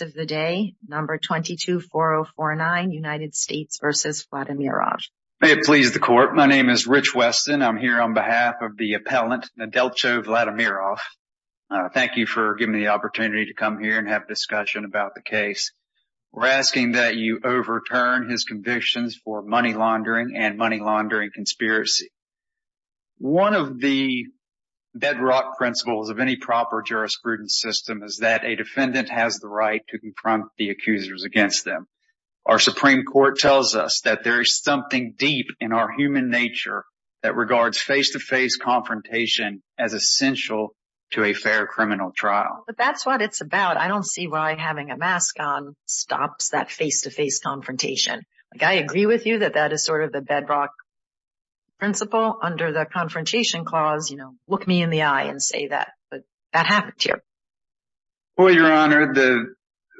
May it please the Court, my name is Rich Weston. I'm here on behalf of the appellant Nedeltcho Vladimirov. Thank you for giving me the opportunity to come here and have a discussion about the case. We're asking that you overturn his convictions for money laundering and money laundering conspiracy. One of the bedrock principles of any proper jurisprudence system is that a defendant has the right to confront the accusers against them. Our Supreme Court tells us that there is something deep in our human nature that regards face-to-face confrontation as essential to a fair criminal trial. But that's what it's about. I don't see why having a mask on stops that face-to-face confrontation. I agree with you that that is sort of the bedrock principle under the confrontation clause, you know, look me in the eye and say that that happened to you. Well, Your Honor, the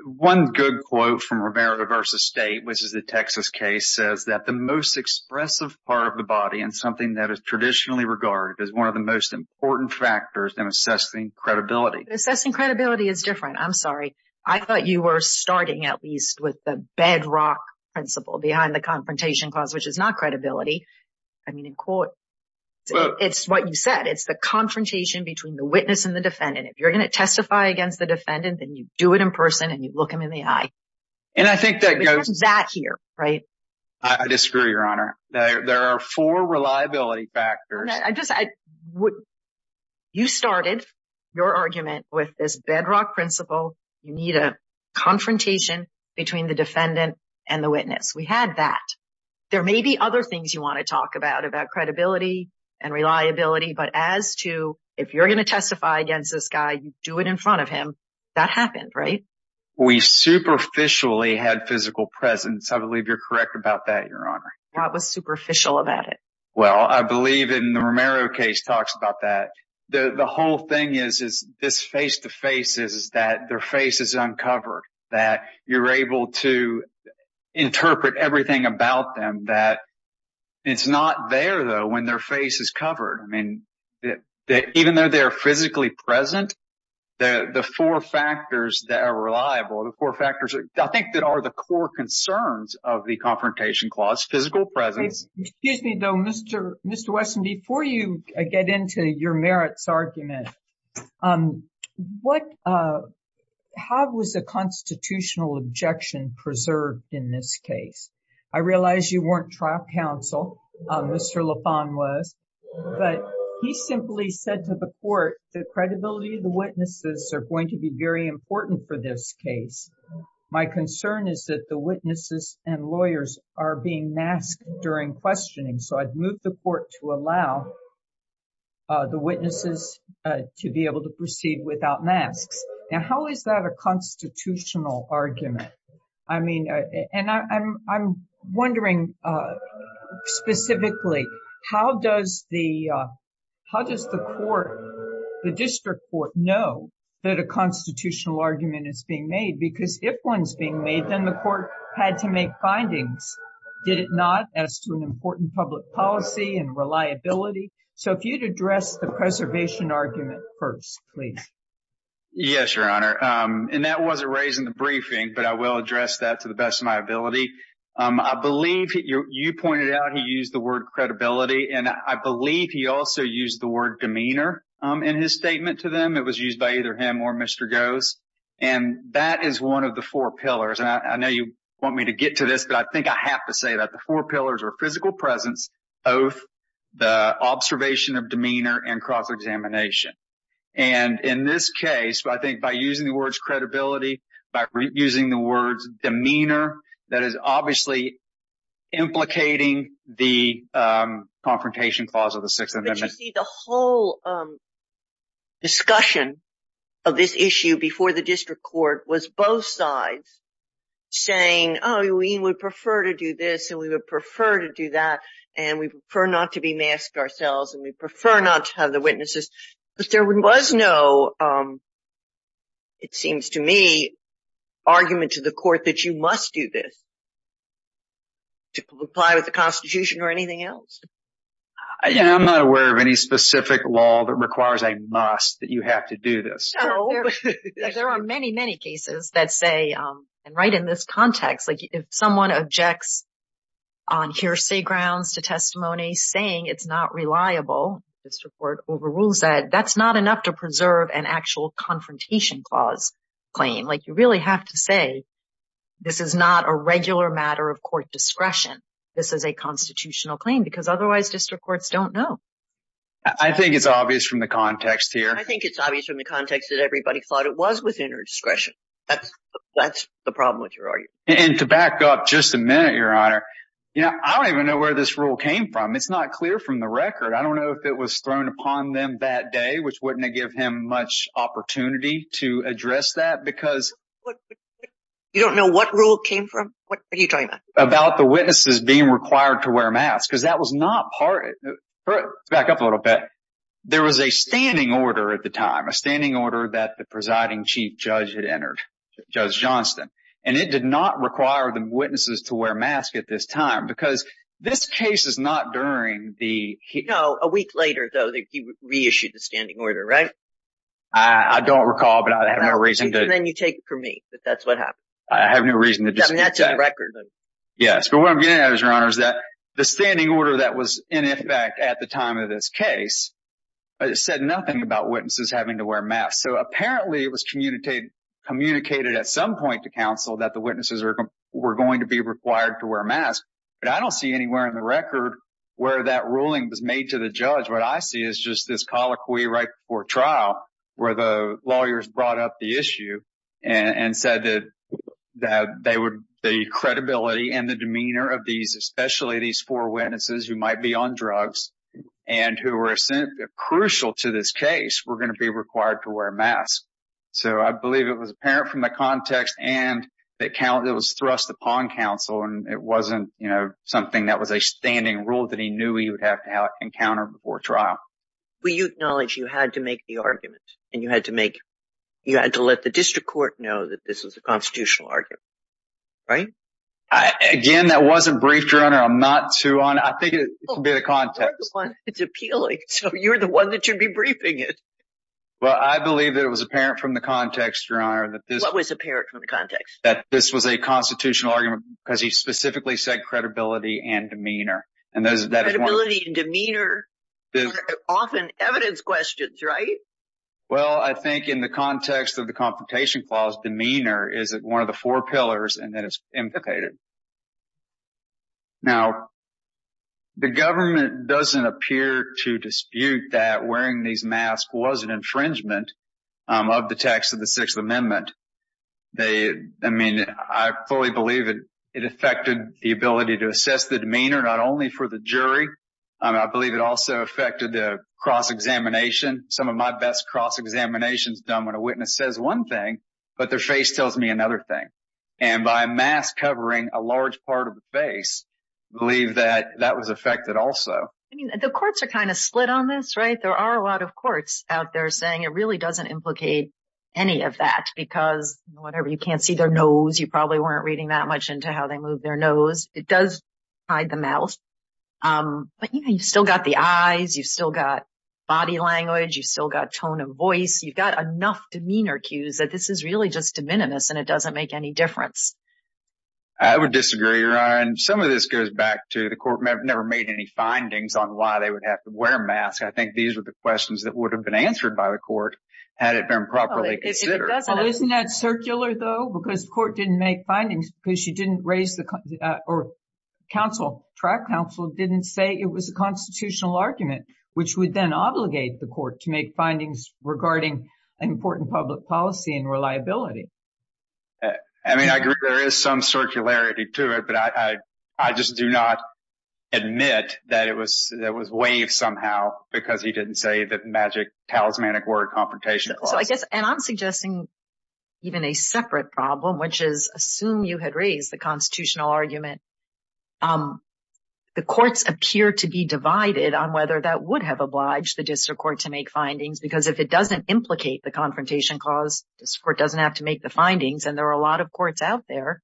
one good quote from Romero v. State, which is the Texas case, says that the most expressive part of the body and something that is traditionally regarded as one of the most important factors in assessing credibility. Assessing credibility is different. I'm sorry. I thought you were starting at least with the bedrock principle behind the confrontation clause, which is not credibility. I mean, in court, it's what you said. It's the confrontation between the witness and the defendant. If you're going to testify against the defendant, then you do it in person and you look him in the eye. And I think that goes... We have that here, right? I disagree, Your Honor. There are four reliability factors. You started your argument with this bedrock principle. You need a confrontation between the defendant and the witness. We had that. There may be other things you want to talk about, about credibility and reliability. But as to if you're going to testify against this guy, you do it in front of him. That happened, right? We superficially had physical presence. I believe you're correct about that, Your Honor. What was superficial about it? Well, I believe in the Romero case talks about that. The whole thing is this face to face is that their face is uncovered, that you're able to interpret everything about them, that it's not there, though, when their face is covered. I mean, even though they're physically present, the four factors that are reliable, the four factors, I think, that are the core concerns of the confrontation clause, physical presence. Excuse me, though, Mr. Wesson, before you get into your merits argument, what, how was the constitutional objection preserved in this case? I realize you weren't trial counsel, Mr. Lafon was, but he simply said to the court, the credibility of the witnesses are going to be very important for this case. My concern is that the witnesses and lawyers are being masked during questioning. So I've moved the court to allow the witnesses to be able to proceed without masks. Now, how is that a constitutional argument? I mean, and I'm wondering, specifically, how does the how does the court, the district court know that a constitutional argument is being made? Because if one's being made, then the court had to make findings, did it not, as to an important public policy and reliability. So if you'd address the preservation argument first, please. Yes, Your Honor. And that wasn't raised in the briefing, but I will address that to the best of my ability. I believe you pointed out he used the word credibility. And I believe he also used the word demeanor in his statement to them. It was used by either him or Mr. Goes. And that is one of the four pillars. And I know you want me to get to this, but I think I have to say that the four pillars are physical presence, oath, the observation of demeanor and cross examination. And in this case, I think by using the words credibility, by using the words demeanor, that is obviously implicating the confrontation clause of the Sixth Amendment. The whole discussion of this issue before the district court was both sides saying, oh, we would prefer to do this. And we would prefer to do that. And we prefer not to be masked ourselves. And we prefer not to have the witnesses. But there was no, it seems to me, argument to the court that you must do this to comply with the Constitution or anything else. Yeah, I'm not aware of any specific law that requires a must that you have to do this. There are many, many cases that say, and right in this context, like if someone objects on hearsay grounds to testimony saying it's not reliable, district court overrules that, that's not enough to preserve an actual confrontation clause claim. Like you really have to say, this is not a regular matter of court discretion. This is a constitutional claim because otherwise district courts don't know. I think it's obvious from the context here. I think it's obvious from the context that everybody thought it was within her discretion. That's the problem with your argument. And to back up just a minute, Your Honor, you know, I don't even know where this rule came from. It's not clear from the record. I don't know if it was thrown upon them that day, which wouldn't give him much opportunity to address that. You don't know what rule came from? What are you talking about? About the witnesses being required to wear masks, because that was not part of it. Back up a little bit. There was a standing order at the time, a standing order that the presiding chief judge had entered, Judge Johnston, and it did not require the witnesses to wear masks at this time, because this case is not during the... No, a week later, though, he reissued the standing order, right? I don't recall, but I have no reason to... And then you take it from me that that's what happened. I have no reason to dispute that. I mean, that's in the record. Yes, but what I'm getting at, Your Honor, is that the standing order that was in effect at the time of this case said nothing about witnesses having to wear masks. So apparently it was communicated at some point to counsel that the witnesses were going to be required to wear masks. But I don't see anywhere in the record where that ruling was made to the judge. What I see is just this colloquy right before trial where the lawyers brought up the issue and said that the credibility and the demeanor of these, especially these four witnesses who might be on drugs and who were crucial to this case, were going to be required to wear masks. So I believe it was apparent from the context and it was thrust upon counsel. And it wasn't something that was a standing rule that he knew he would have to encounter before trial. Well, you acknowledge you had to make the argument and you had to make, you had to let the district court know that this was a constitutional argument, right? Again, that wasn't briefed, Your Honor. I'm not too on it. I think it's a bit of context. It's appealing. So you're the one that should be briefing it. Well, I believe that it was apparent from the context, Your Honor, that this... What was apparent from the context? Credibility and demeanor are often evidence questions, right? Well, I think in the context of the Confrontation Clause, demeanor is one of the four pillars and that is implicated. Now, the government doesn't appear to dispute that wearing these masks was an infringement of the text of the Sixth Amendment. I mean, I fully believe that it affected the ability to assess the demeanor, not only for the jury. I believe it also affected the cross-examination. Some of my best cross-examinations done when a witness says one thing, but their face tells me another thing. And by a mask covering a large part of the face, I believe that that was affected also. The courts are kind of split on this, right? There are a lot of courts out there saying it really doesn't implicate any of that because, whatever, you can't see their nose. You probably weren't reading that much into how they move their nose. It does hide the mouth, but you've still got the eyes. You've still got body language. You've still got tone of voice. You've got enough demeanor cues that this is really just de minimis and it doesn't make any difference. I would disagree, Your Honor, and some of this goes back to the court never made any findings on why they would have to wear a mask. I think these were the questions that would have been answered by the court had it been properly considered. Isn't that circular, though? Because the court didn't make findings because you didn't raise the or counsel, track counsel, didn't say it was a constitutional argument, which would then obligate the court to make findings regarding an important public policy and reliability. I mean, I agree there is some circularity to it, but I just do not admit that it was that was waived somehow because he didn't say that magic talismanic word confrontation. And I'm suggesting even a separate problem, which is assume you had raised the constitutional argument. The courts appear to be divided on whether that would have obliged the district court to make findings, because if it doesn't implicate the confrontation cause, this court doesn't have to make the findings. And there are a lot of courts out there,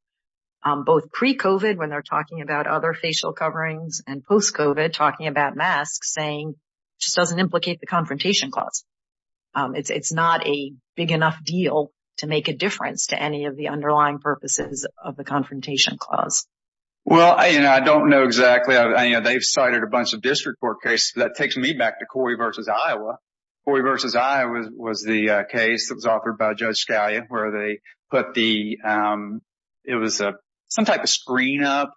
both pre-COVID when they're talking about other facial coverings and post-COVID talking about masks saying just doesn't implicate the confrontation clause. It's not a big enough deal to make a difference to any of the underlying purposes of the confrontation clause. Well, you know, I don't know exactly. They've cited a bunch of district court cases. That takes me back to Corey v. Iowa. Corey v. Iowa was the case that was offered by Judge Scalia where they put the it was some type of screen up.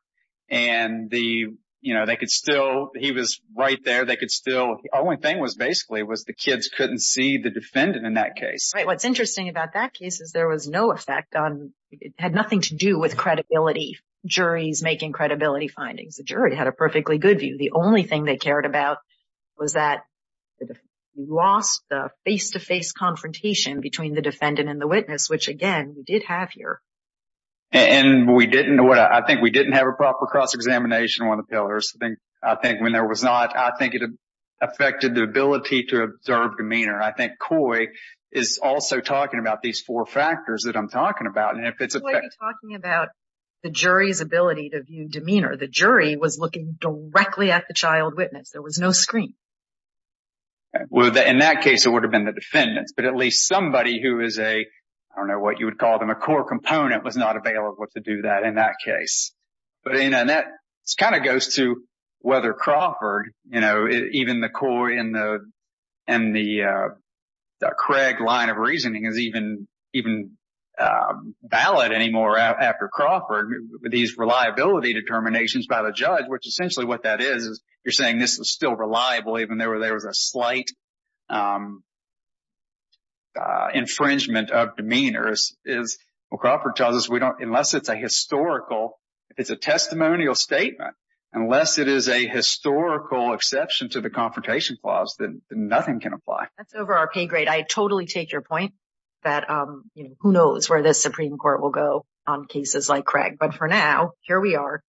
And the you know, they could still he was right there. They could still only thing was basically was the kids couldn't see the defendant in that case. What's interesting about that case is there was no effect on it had nothing to do with credibility. Juries making credibility findings. The jury had a perfectly good view. The only thing they cared about was that we lost the face to face confrontation between the defendant and the witness, which, again, we did have here. And we didn't know what I think we didn't have a proper cross-examination on the pillars. I think when there was not, I think it affected the ability to observe demeanor. I think Coy is also talking about these four factors that I'm talking about. And if it's talking about the jury's ability to view demeanor, the jury was looking directly at the child witness. There was no screen. Well, in that case, it would have been the defendants, but at least somebody who is a I don't know what you would call them a core component. It was not available to do that in that case. But that kind of goes to whether Crawford, you know, even the Coy and the and the Craig line of reasoning is even even valid anymore after Crawford. These reliability determinations by the judge, which essentially what that is, is you're saying this is still reliable even though there was a slight. Infringement of demeanors is what Crawford tells us, we don't unless it's a historical, it's a testimonial statement, unless it is a historical exception to the Confrontation Clause, then nothing can apply. That's over our pay grade. I totally take your point that who knows where the Supreme Court will go on cases like Craig. But for now, here we are.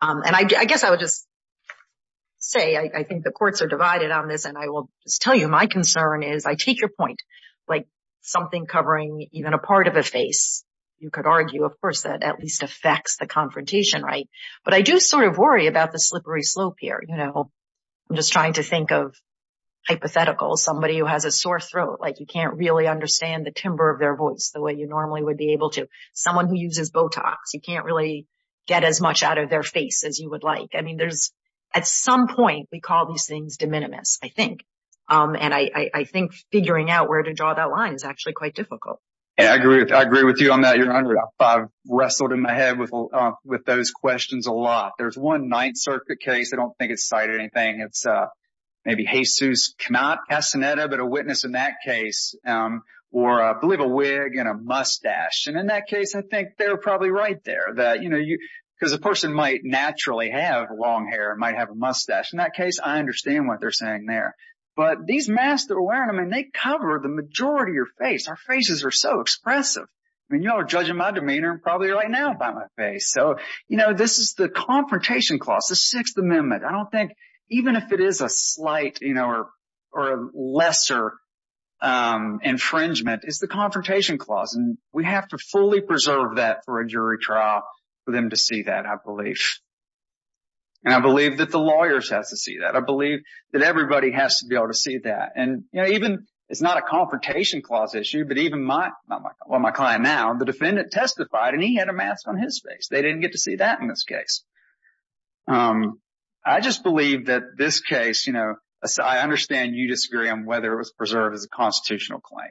And I guess I would just say I think the courts are divided on this. And I will tell you, my concern is I take your point like something covering even a part of a face. You could argue, of course, that at least affects the confrontation. Right. But I do sort of worry about the slippery slope here. You know, I'm just trying to think of hypotheticals, somebody who has a sore throat, like you can't really understand the timber of their voice the way you normally would be able to. Someone who uses Botox, you can't really get as much out of their face as you would like. I mean, there's at some point we call these things de minimis, I think. And I think figuring out where to draw that line is actually quite difficult. Yeah, I agree. I agree with you on that. You're right. I've wrestled in my head with with those questions a lot. There's one Ninth Circuit case. I don't think it's cited anything. It's maybe Jesus Cannata, but a witness in that case, or I believe a wig and a mustache. And in that case, I think they're probably right there that, you know, because a person might naturally have long hair, might have a mustache. In that case, I understand what they're saying there. But these masks that we're wearing, I mean, they cover the majority of your face. Our faces are so expressive. I mean, you're judging my demeanor probably right now by my face. So, you know, this is the confrontation clause, the Sixth Amendment. I don't think even if it is a slight, you know, or a lesser infringement is the confrontation clause. And we have to fully preserve that for a jury trial for them to see that, I believe. And I believe that the lawyers have to see that. I believe that everybody has to be able to see that. And, you know, even it's not a confrontation clause issue, but even my well, my client now, the defendant testified and he had a mask on his face. They didn't get to see that in this case. I just believe that this case, you know, I understand you disagree on whether it was preserved as a constitutional claim.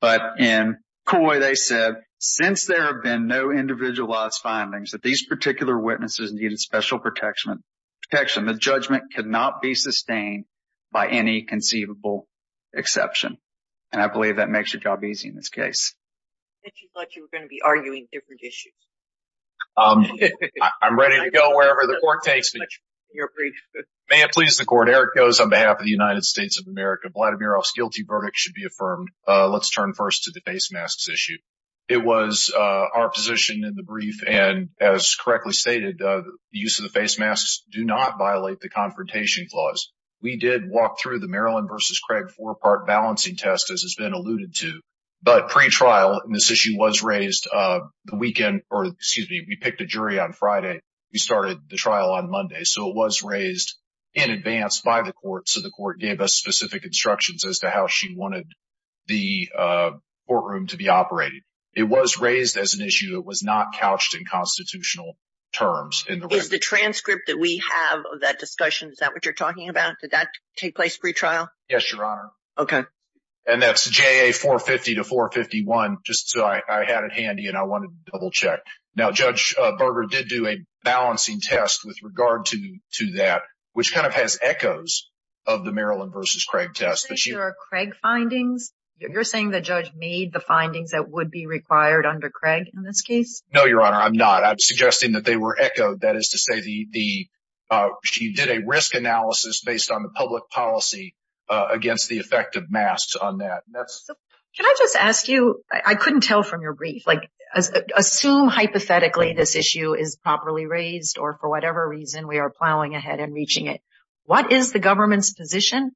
But in Coy, they said, since there have been no individualized findings that these particular witnesses needed special protection, the judgment could not be sustained by any conceivable exception. And I believe that makes your job easy in this case. I thought you were going to be arguing different issues. I'm ready to go wherever the court takes me. You're free. May it please the court. Eric goes on behalf of the United States of America. Vladimirov's guilty verdict should be affirmed. Let's turn first to the face masks issue. It was our position in the brief. And as correctly stated, the use of the face masks do not violate the confrontation clause. We did walk through the Maryland versus Craig four-part balancing test, as has been alluded to. But pre-trial, and this issue was raised the weekend, or excuse me, we picked a jury on Friday. We started the trial on Monday. So it was raised in advance by the court. So the court gave us specific instructions as to how she wanted the courtroom to be operated. It was raised as an issue that was not couched in constitutional terms. Is the transcript that we have of that discussion, is that what you're talking about? Did that take place pre-trial? Yes, Your Honor. Okay. And that's JA 450 to 451, just so I had it handy and I wanted to double check. Now, Judge Berger did do a balancing test with regard to that, which kind of has echoes of the Maryland versus Craig test. You're saying there are Craig findings? You're saying the judge made the findings that would be required under Craig in this case? No, Your Honor, I'm not. I'm suggesting that they were echoed. That is to say, she did a risk analysis based on the public policy against the effect of masks on that. Can I just ask you, I couldn't tell from your brief. Assume, hypothetically, this issue is properly raised or for whatever reason we are plowing ahead and reaching it. What is the government's position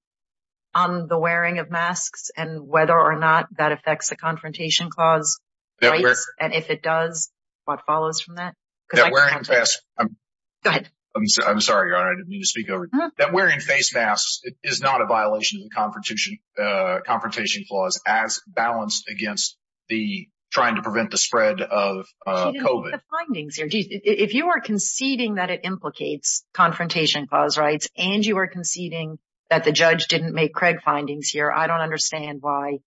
on the wearing of masks and whether or not that affects the confrontation clause rights? And if it does, what follows from that? That wearing face masks... Go ahead. I'm sorry, Your Honor. I didn't mean to speak over you. That wearing face masks is not a violation of the confrontation clause as balanced against the trying to prevent the spread of COVID. She didn't make the findings here. If you are conceding that it implicates confrontation clause rights and you are conceding that the judge didn't make Craig findings here, I don't understand why.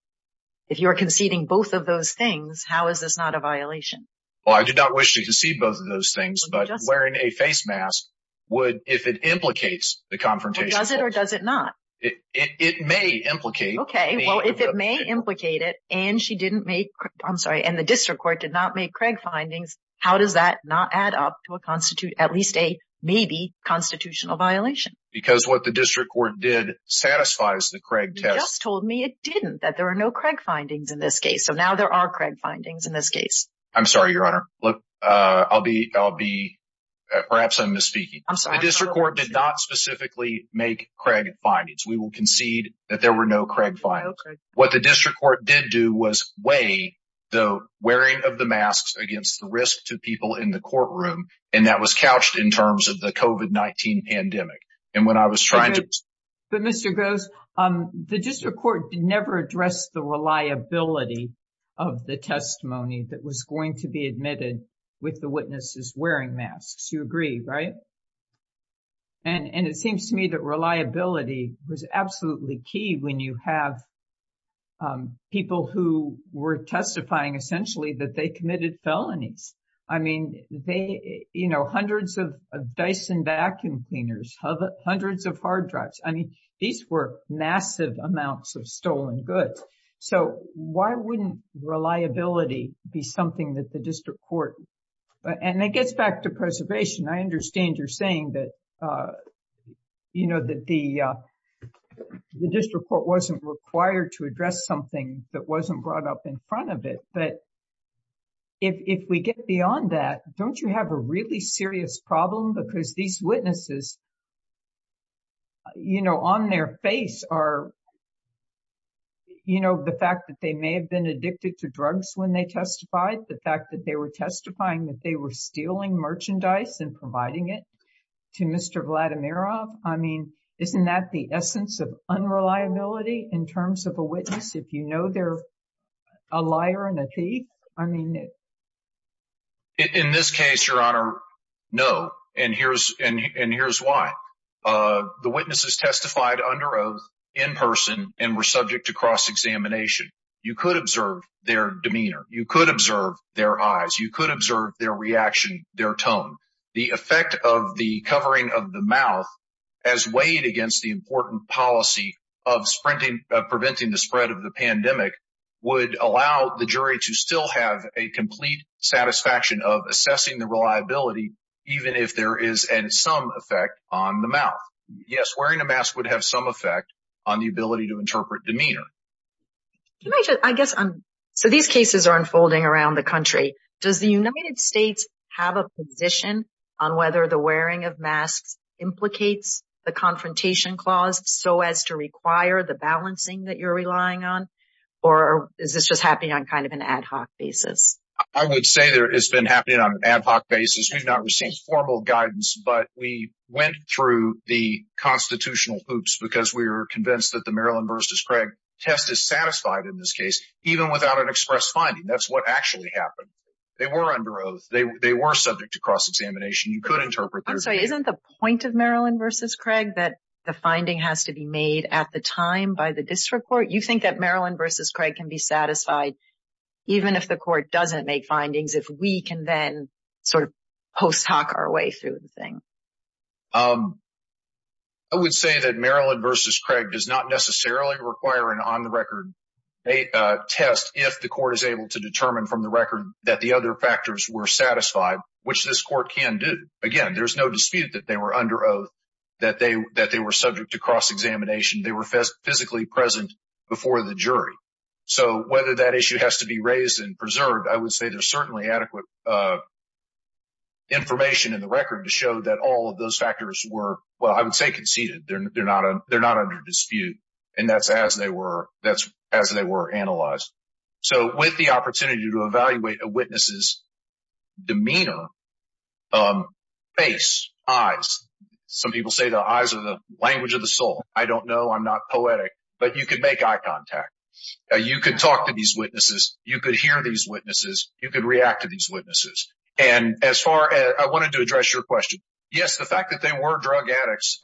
If you are conceding both of those things, how is this not a violation? Well, I do not wish to concede both of those things, but wearing a face mask would, if it implicates the confrontation clause... Well, does it or does it not? It may implicate. Okay. Well, if it may implicate it and she didn't make, I'm sorry, and the district court did not make Craig findings, how does that not add up to a constitute, at least a maybe constitutional violation? Because what the district court did satisfies the Craig test. You just told me it didn't, that there are no Craig findings in this case. So now there are Craig findings in this case. I'm sorry, Your Honor. Look, I'll be, I'll be, perhaps I'm misspeaking. The district court did not specifically make Craig findings. We will concede that there were no Craig findings. What the district court did do was weigh the wearing of the masks against the risk to people in the courtroom. And that was couched in terms of the COVID-19 pandemic. And when I was trying to... But Mr. Groves, the district court never addressed the reliability of the testimony that was going to be admitted with the witnesses wearing masks. You agree, right? And it seems to me that reliability was absolutely key when you have people who were testifying, essentially, that they committed felonies. I mean, they, you know, hundreds of Dyson vacuum cleaners, hundreds of hard drives. I mean, these were massive amounts of stolen goods. So why wouldn't reliability be something that the district court... And it gets back to preservation. I understand you're saying that, you know, that the district court wasn't required to address something that wasn't brought up in front of it. But if we get beyond that, don't you have a really serious problem? Because these witnesses, you know, on their face are, you know, the fact that they may have been addicted to drugs when they testified. The fact that they were testifying that they were stealing merchandise and providing it to Mr. Vladimirov. I mean, isn't that the essence of unreliability in terms of a witness? If you know they're a liar and a thief, I mean, no. In this case, Your Honor, no. And here's why. The witnesses testified under oath in person and were subject to cross-examination. You could observe their demeanor. You could observe their eyes. You could observe their reaction, their tone. The effect of the covering of the mouth as weighed against the important policy of preventing the spread of the pandemic would allow the jury to still have a complete satisfaction of assessing the reliability, even if there is some effect on the mouth. Yes, wearing a mask would have some effect on the ability to interpret demeanor. I guess, so these cases are unfolding around the country. Does the United States have a position on whether the wearing of masks implicates the confrontation clause so as to require the balancing that you're relying on? Or is this just happening on kind of an ad hoc basis? I would say it's been happening on an ad hoc basis. We've not received formal guidance, but we went through the constitutional hoops because we were convinced that the Maryland v. Craig test is satisfied in this case, even without an express finding. That's what actually happened. They were under oath. They were subject to cross-examination. You could interpret. I'm sorry. Isn't the point of Maryland v. Craig that the finding has to be made at the time by the district court? You think that Maryland v. Craig can be satisfied even if the court doesn't make findings, if we can then sort of post hoc our way through the thing? I would say that Maryland v. Craig does not necessarily require an on-the-record test if the court is able to determine from the record that the other factors were satisfied, which this court can do. Again, there's no dispute that they were under oath, that they were subject to cross-examination. So whether that issue has to be raised and preserved, I would say there's certainly adequate information in the record to show that all of those factors were, well, I would say conceded. They're not under dispute, and that's as they were analyzed. So with the opportunity to evaluate a witness's demeanor, face, eyes, some people say the eyes are the language of the soul. I don't know. I'm not poetic, but you could make eye contact. You could talk to these witnesses. You could hear these witnesses. You could react to these witnesses. And as far as I wanted to address your question, yes, the fact that they were drug addicts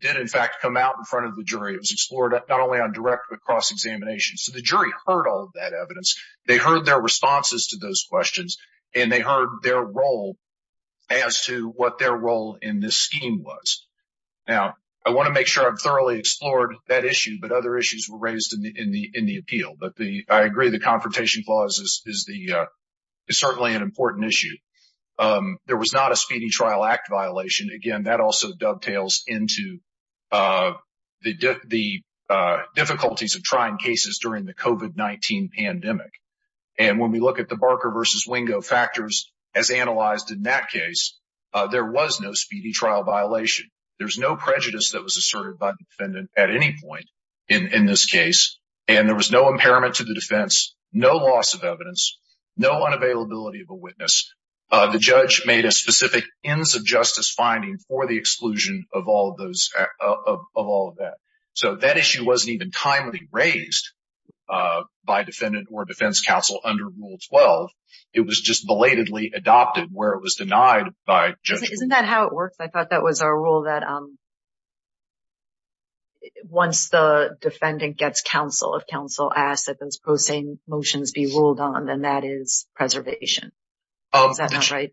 did, in fact, come out in front of the jury. It was explored not only on direct, but cross-examination. So the jury heard all of that evidence. They heard their responses to those questions, and they heard their role as to what their role in this scheme was. Now, I want to make sure I've thoroughly explored that issue, but other issues were raised in the appeal. But I agree the confrontation clause is certainly an important issue. There was not a speedy trial act violation. Again, that also dovetails into the difficulties of trying cases during the COVID-19 pandemic. And when we look at the Barker versus Wingo factors as analyzed in that case, there was no speedy trial violation. There was no prejudice that was asserted by the defendant at any point in this case. And there was no impairment to the defense, no loss of evidence, no unavailability of a witness. The judge made a specific ends of justice finding for the exclusion of all of that. So that issue wasn't even timely raised by defendant or defense counsel under Rule 12. It was just belatedly adopted where it was denied by judges. Isn't that how it works? I thought that was our rule that once the defendant gets counsel, if counsel asks that those pro se motions be ruled on, then that is preservation. Is that not right?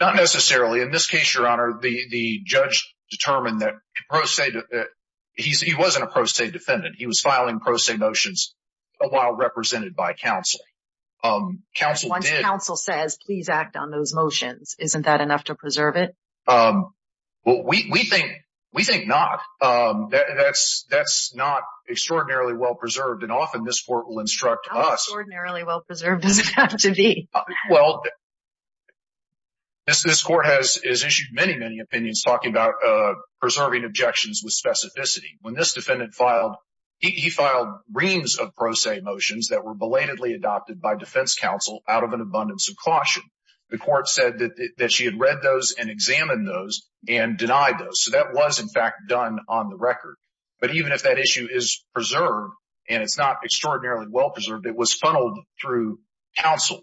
Not necessarily. In this case, Your Honor, the judge determined that he wasn't a pro se defendant. He was filing pro se motions while represented by counsel. Once counsel says, please act on those motions, isn't that enough to preserve it? Well, we think not. That's not extraordinarily well-preserved. And often this court will instruct us. How extraordinarily well-preserved does it have to be? Well, this court has issued many, many opinions talking about preserving objections with specificity. When this defendant filed, he filed reams of pro se motions that were belatedly adopted by defense counsel out of an abundance of caution. The court said that she had read those and examined those and denied those. So that was, in fact, done on the record. But even if that issue is preserved and it's not extraordinarily well-preserved, it was funneled through counsel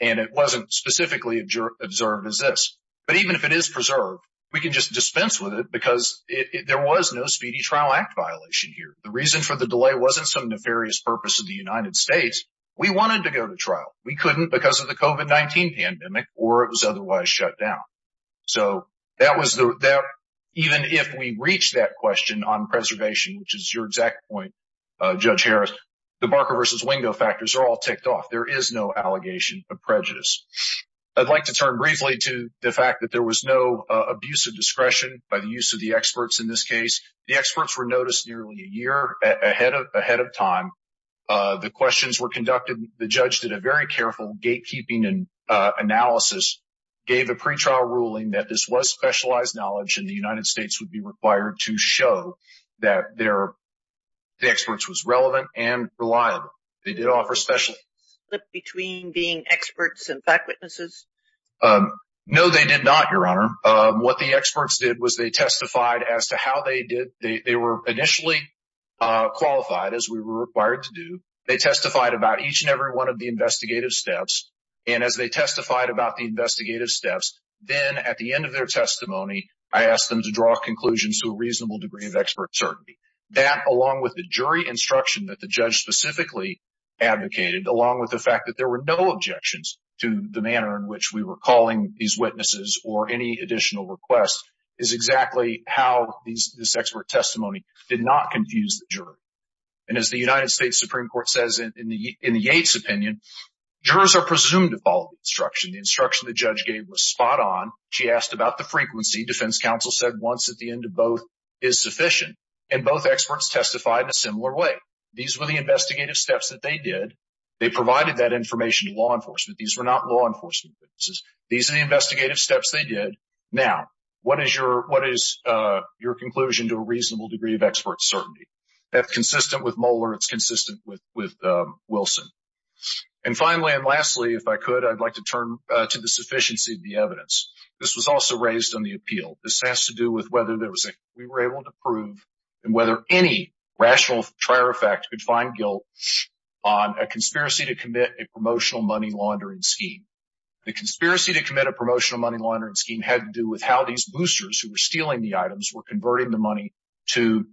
and it wasn't specifically observed as this. But even if it is preserved, we can just dispense with it because there was no speedy trial act violation here. The reason for the delay wasn't some nefarious purpose of the United States. We wanted to go to trial. We couldn't because of the COVID-19 pandemic or it was otherwise shut down. So even if we reach that question on preservation, which is your exact point, Judge Harris, the Barker versus Wingo factors are all ticked off. There is no allegation of prejudice. I'd like to turn briefly to the fact that there was no abuse of discretion by the use of the experts in this case. The experts were noticed nearly a year ahead of time. The questions were conducted. The judge did a very careful gatekeeping and analysis, gave a pretrial ruling that this was specialized knowledge and the United States would be required to show that the experts was relevant and reliable. They did offer special... Did they split between being experts and fact witnesses? No, they did not, Your Honor. What the experts did was they testified as to how they did. They were initially qualified, as we were required to do. They testified about each and every one of the investigative steps. And as they testified about the investigative steps, then at the end of their testimony, I asked them to draw conclusions to a reasonable degree of expert certainty. That, along with the jury instruction that the judge specifically advocated, along with the fact that there were no objections to the manner in which we were calling these witnesses or any additional requests, is exactly how this expert testimony did not confuse the jury. And as the United States Supreme Court says in the Yates opinion, jurors are presumed to follow the instruction. The instruction the judge gave was spot on. She asked about the frequency. Defense counsel said once at the end of both is sufficient. And both experts testified in a similar way. These were the investigative steps that they did. They provided that information to law enforcement. These were not law enforcement witnesses. These are the investigative steps they did. Now, what is your conclusion to a reasonable degree of expert certainty? That's consistent with Moeller. It's consistent with Wilson. And finally, and lastly, if I could, I'd like to turn to the sufficiency of the evidence. This was also raised on the appeal. This has to do with whether we were able to prove and whether any rational triar effect could find guilt on a conspiracy to commit a promotional money laundering scheme. The conspiracy to commit a promotional money laundering scheme had to do with how these boosters who were stealing the items were converting the money to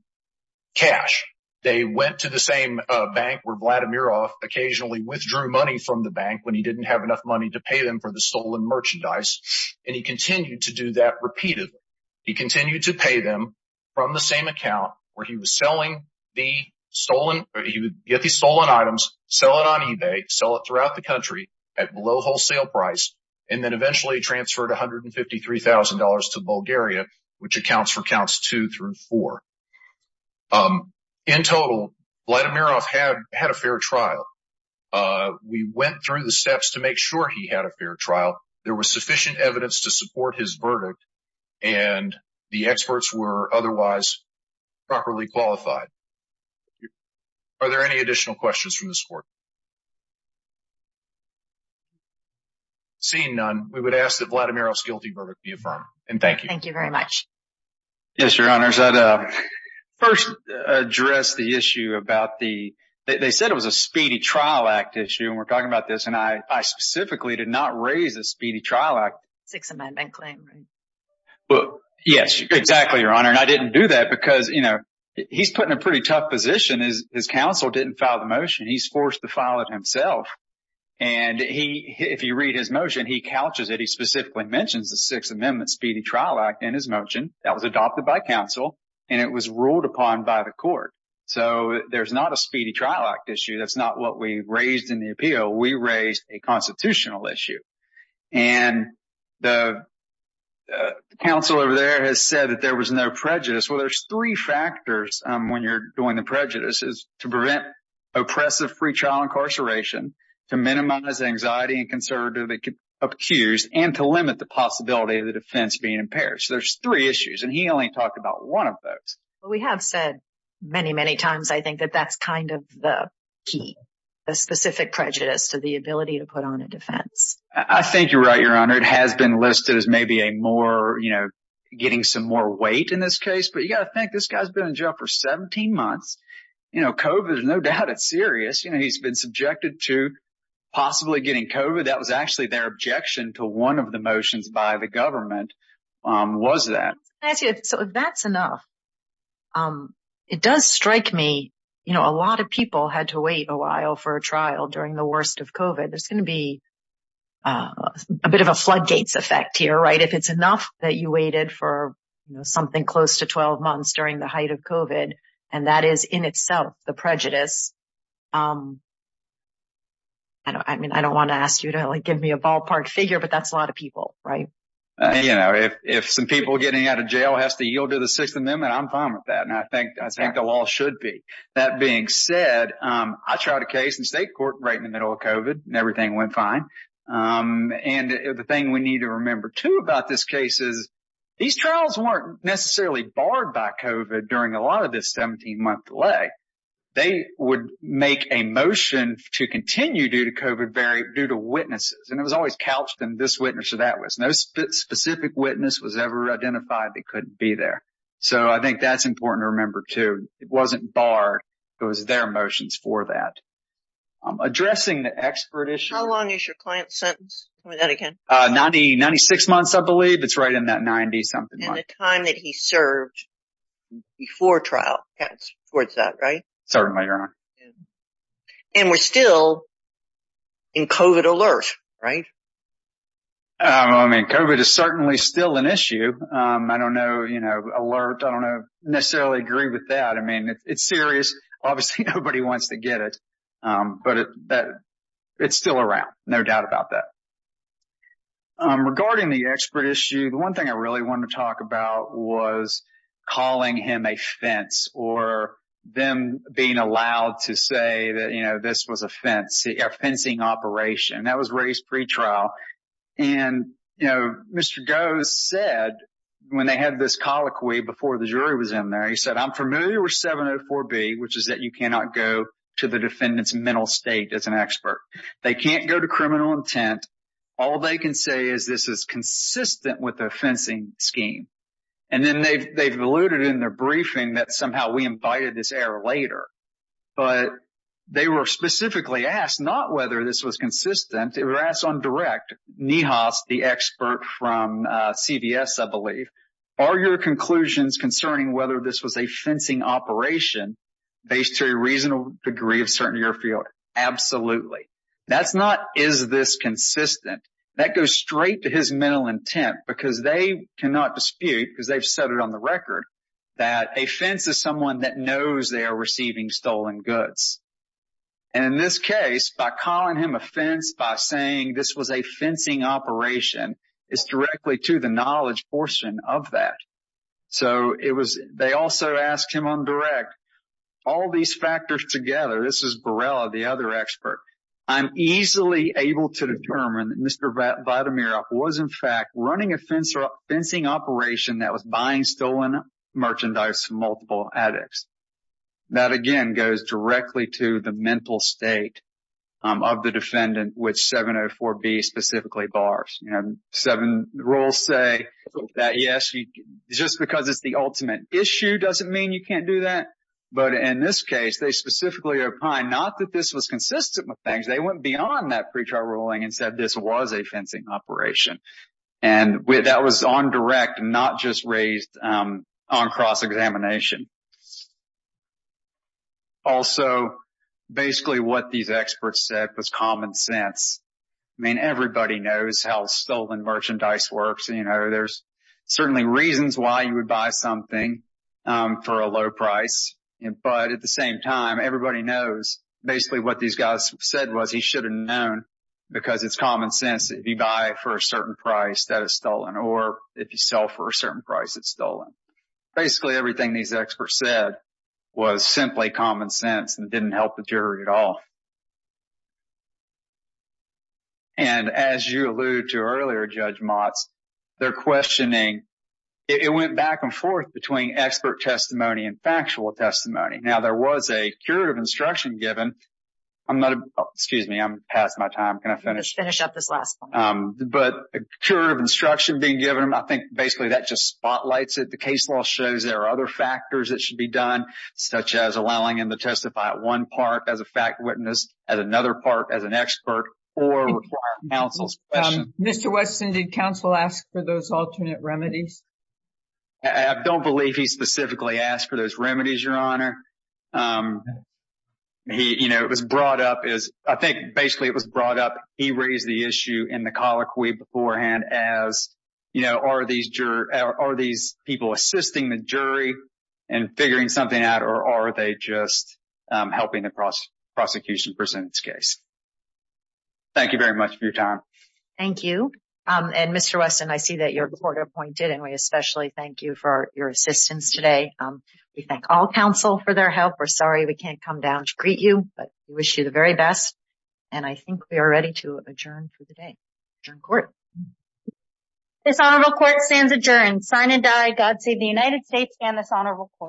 cash. They went to the same bank where Vladimir occasionally withdrew money from the bank when he didn't have enough money to pay them for the stolen merchandise. And he continued to do that repeatedly. He continued to pay them from the same account where he was selling the stolen, he would get these stolen items, sell it on eBay, sell it throughout the country at low wholesale price. And then eventually transferred $153,000 to Bulgaria, which accounts for counts two through four. In total, Vladimirov had a fair trial. We went through the steps to make sure he had a fair trial. There was sufficient evidence to support his verdict and the experts were otherwise properly qualified. Are there any additional questions from this court? Seeing none, we would ask that Vladimirov's guilty verdict be affirmed. And thank you. Thank you very much. Yes, your honors. First, address the issue about the, they said it was a speedy trial act issue and we're talking about this. And I specifically did not raise the Speedy Trial Act. Sixth Amendment claim. Well, yes, exactly, your honor. And I didn't do that because, you know, he's put in a pretty tough position. His counsel didn't file the motion. He's forced to file it himself. And he, if you read his motion, he couches it. He specifically mentions the Sixth Amendment Speedy Trial Act in his motion that was adopted by counsel and it was ruled upon by the court. So there's not a Speedy Trial Act issue. That's not what we raised in the appeal. We raised a constitutional issue. And the counsel over there has said that there was no prejudice. Well, there's three factors when you're doing the prejudice is to prevent oppressive free child incarceration, to minimize anxiety and conservatively accused, and to limit the possibility of the defense being impaired. So there's three issues. And he only talked about one of those. Well, we have said many, many times, I think, that that's kind of the key, the specific prejudice to the ability to put on a defense. I think you're right, your honor. It has been listed as maybe a more, you know, getting some more weight in this case. But you got to think this guy's been in jail for 17 months. You know, COVID is no doubt it's serious. You know, he's been subjected to possibly getting COVID. That was actually their objection to one of the motions by the government was that. So that's enough. It does strike me, you know, a lot of people had to wait a while for a trial during the worst of COVID. There's going to be a bit of a floodgates effect here, right? If it's enough that you waited for something close to 12 months during the height of COVID, and that is in itself the prejudice. I mean, I don't want to ask you to give me a ballpark figure, but that's a lot of people, right? You know, if some people getting out of jail has to yield to the Sixth Amendment, I'm fine with that. And I think the law should be. That being said, I tried a case in state court right in the middle of COVID and everything went fine. And the thing we need to remember, too, about this case is these trials weren't necessarily barred by COVID during a lot of this 17 month delay. They would make a motion to continue due to COVID due to witnesses. And it was always couched in this witness or that witness. No specific witness was ever identified that couldn't be there. So I think that's important to remember, too. It wasn't barred. It was their motions for that. Addressing the expert issue. How long is your client's sentence? Tell me that again. 90, 96 months, I believe. It's right in that 90-something month. And the time that he served before trial. Towards that, right? Certainly, Your Honor. And we're still in COVID alert, right? I mean, COVID is certainly still an issue. I don't know, you know, alert. I don't necessarily agree with that. I mean, it's serious. Obviously, nobody wants to get it. But it's still around. No doubt about that. Regarding the expert issue, the one thing I really want to talk about was calling him a fence or them being allowed to say that, you know, this was a fencing operation. That was raised pretrial. And, you know, Mr. Goh said when they had this colloquy before the jury was in there, he said, I'm familiar with 704B, which is that you cannot go to the defendant's mental state as an expert. They can't go to criminal intent. All they can say is this is consistent with the fencing scheme. And then they've alluded in their briefing that somehow we invited this error later. But they were specifically asked not whether this was consistent. It was asked on direct. Nihas, the expert from CVS, I believe. Are your conclusions concerning whether this was a fencing operation based to a reasonable degree of certainty or fear? Absolutely. That's not is this consistent. That goes straight to his mental intent because they cannot dispute, because they've said it on the record, that a fence is someone that knows they are receiving stolen goods. And in this case, by calling him a fence, by saying this was a fencing operation, it's directly to the knowledge portion of that. So it was they also asked him on direct all these factors together. This is Barella, the other expert. I'm easily able to determine that Mr. Vitamira was, in fact, running a fencing operation that was buying stolen merchandise from multiple addicts. That, again, goes directly to the mental state of the defendant, which 704B specifically bars. You know, seven rules say that, yes, just because it's the ultimate issue doesn't mean you can't do that. But in this case, they specifically opined not that this was consistent with things. They went beyond that pre-trial ruling and said this was a fencing operation. And that was on direct, not just raised on cross-examination. Also, basically, what these experts said was common sense. I mean, everybody knows how stolen merchandise works. And, you know, there's certainly reasons why you would buy something for a low price. But at the same time, everybody knows basically what these guys said was he should have known because it's common sense. If you buy for a certain price that is stolen or if you sell for a certain price, it's stolen. Basically, everything these experts said was simply common sense and didn't help the jury at all. And as you allude to earlier, Judge Motz, they're questioning, it went back and forth between expert testimony and factual testimony. Now, there was a curative instruction given. I'm not, excuse me, I'm past my time. Can I finish? Finish up this last point. But a curative instruction being given, I think basically that just spotlights it. The case law shows there are other factors that should be done, such as allowing him to testify at one part as a fact witness, at another part as an expert, or require counsel's question. Mr. Wesson, did counsel ask for those alternate remedies? I don't believe he specifically asked for those remedies, Your Honor. He, you know, it was brought up as, I think basically it was brought up. He raised the issue in the colloquy beforehand as, you know, are these people assisting the jury in figuring something out or are they just helping the prosecution present its case? Thank you very much for your time. Thank you. And Mr. Wesson, I see that your court appointed and we especially thank you for your assistance today. We thank all counsel for their help. We're sorry we can't come down to greet you, but we wish you the very best. And I think we are ready to adjourn for the day. Adjourn court. This honorable court stands adjourned. Sign and die. God save the United States and this honorable court.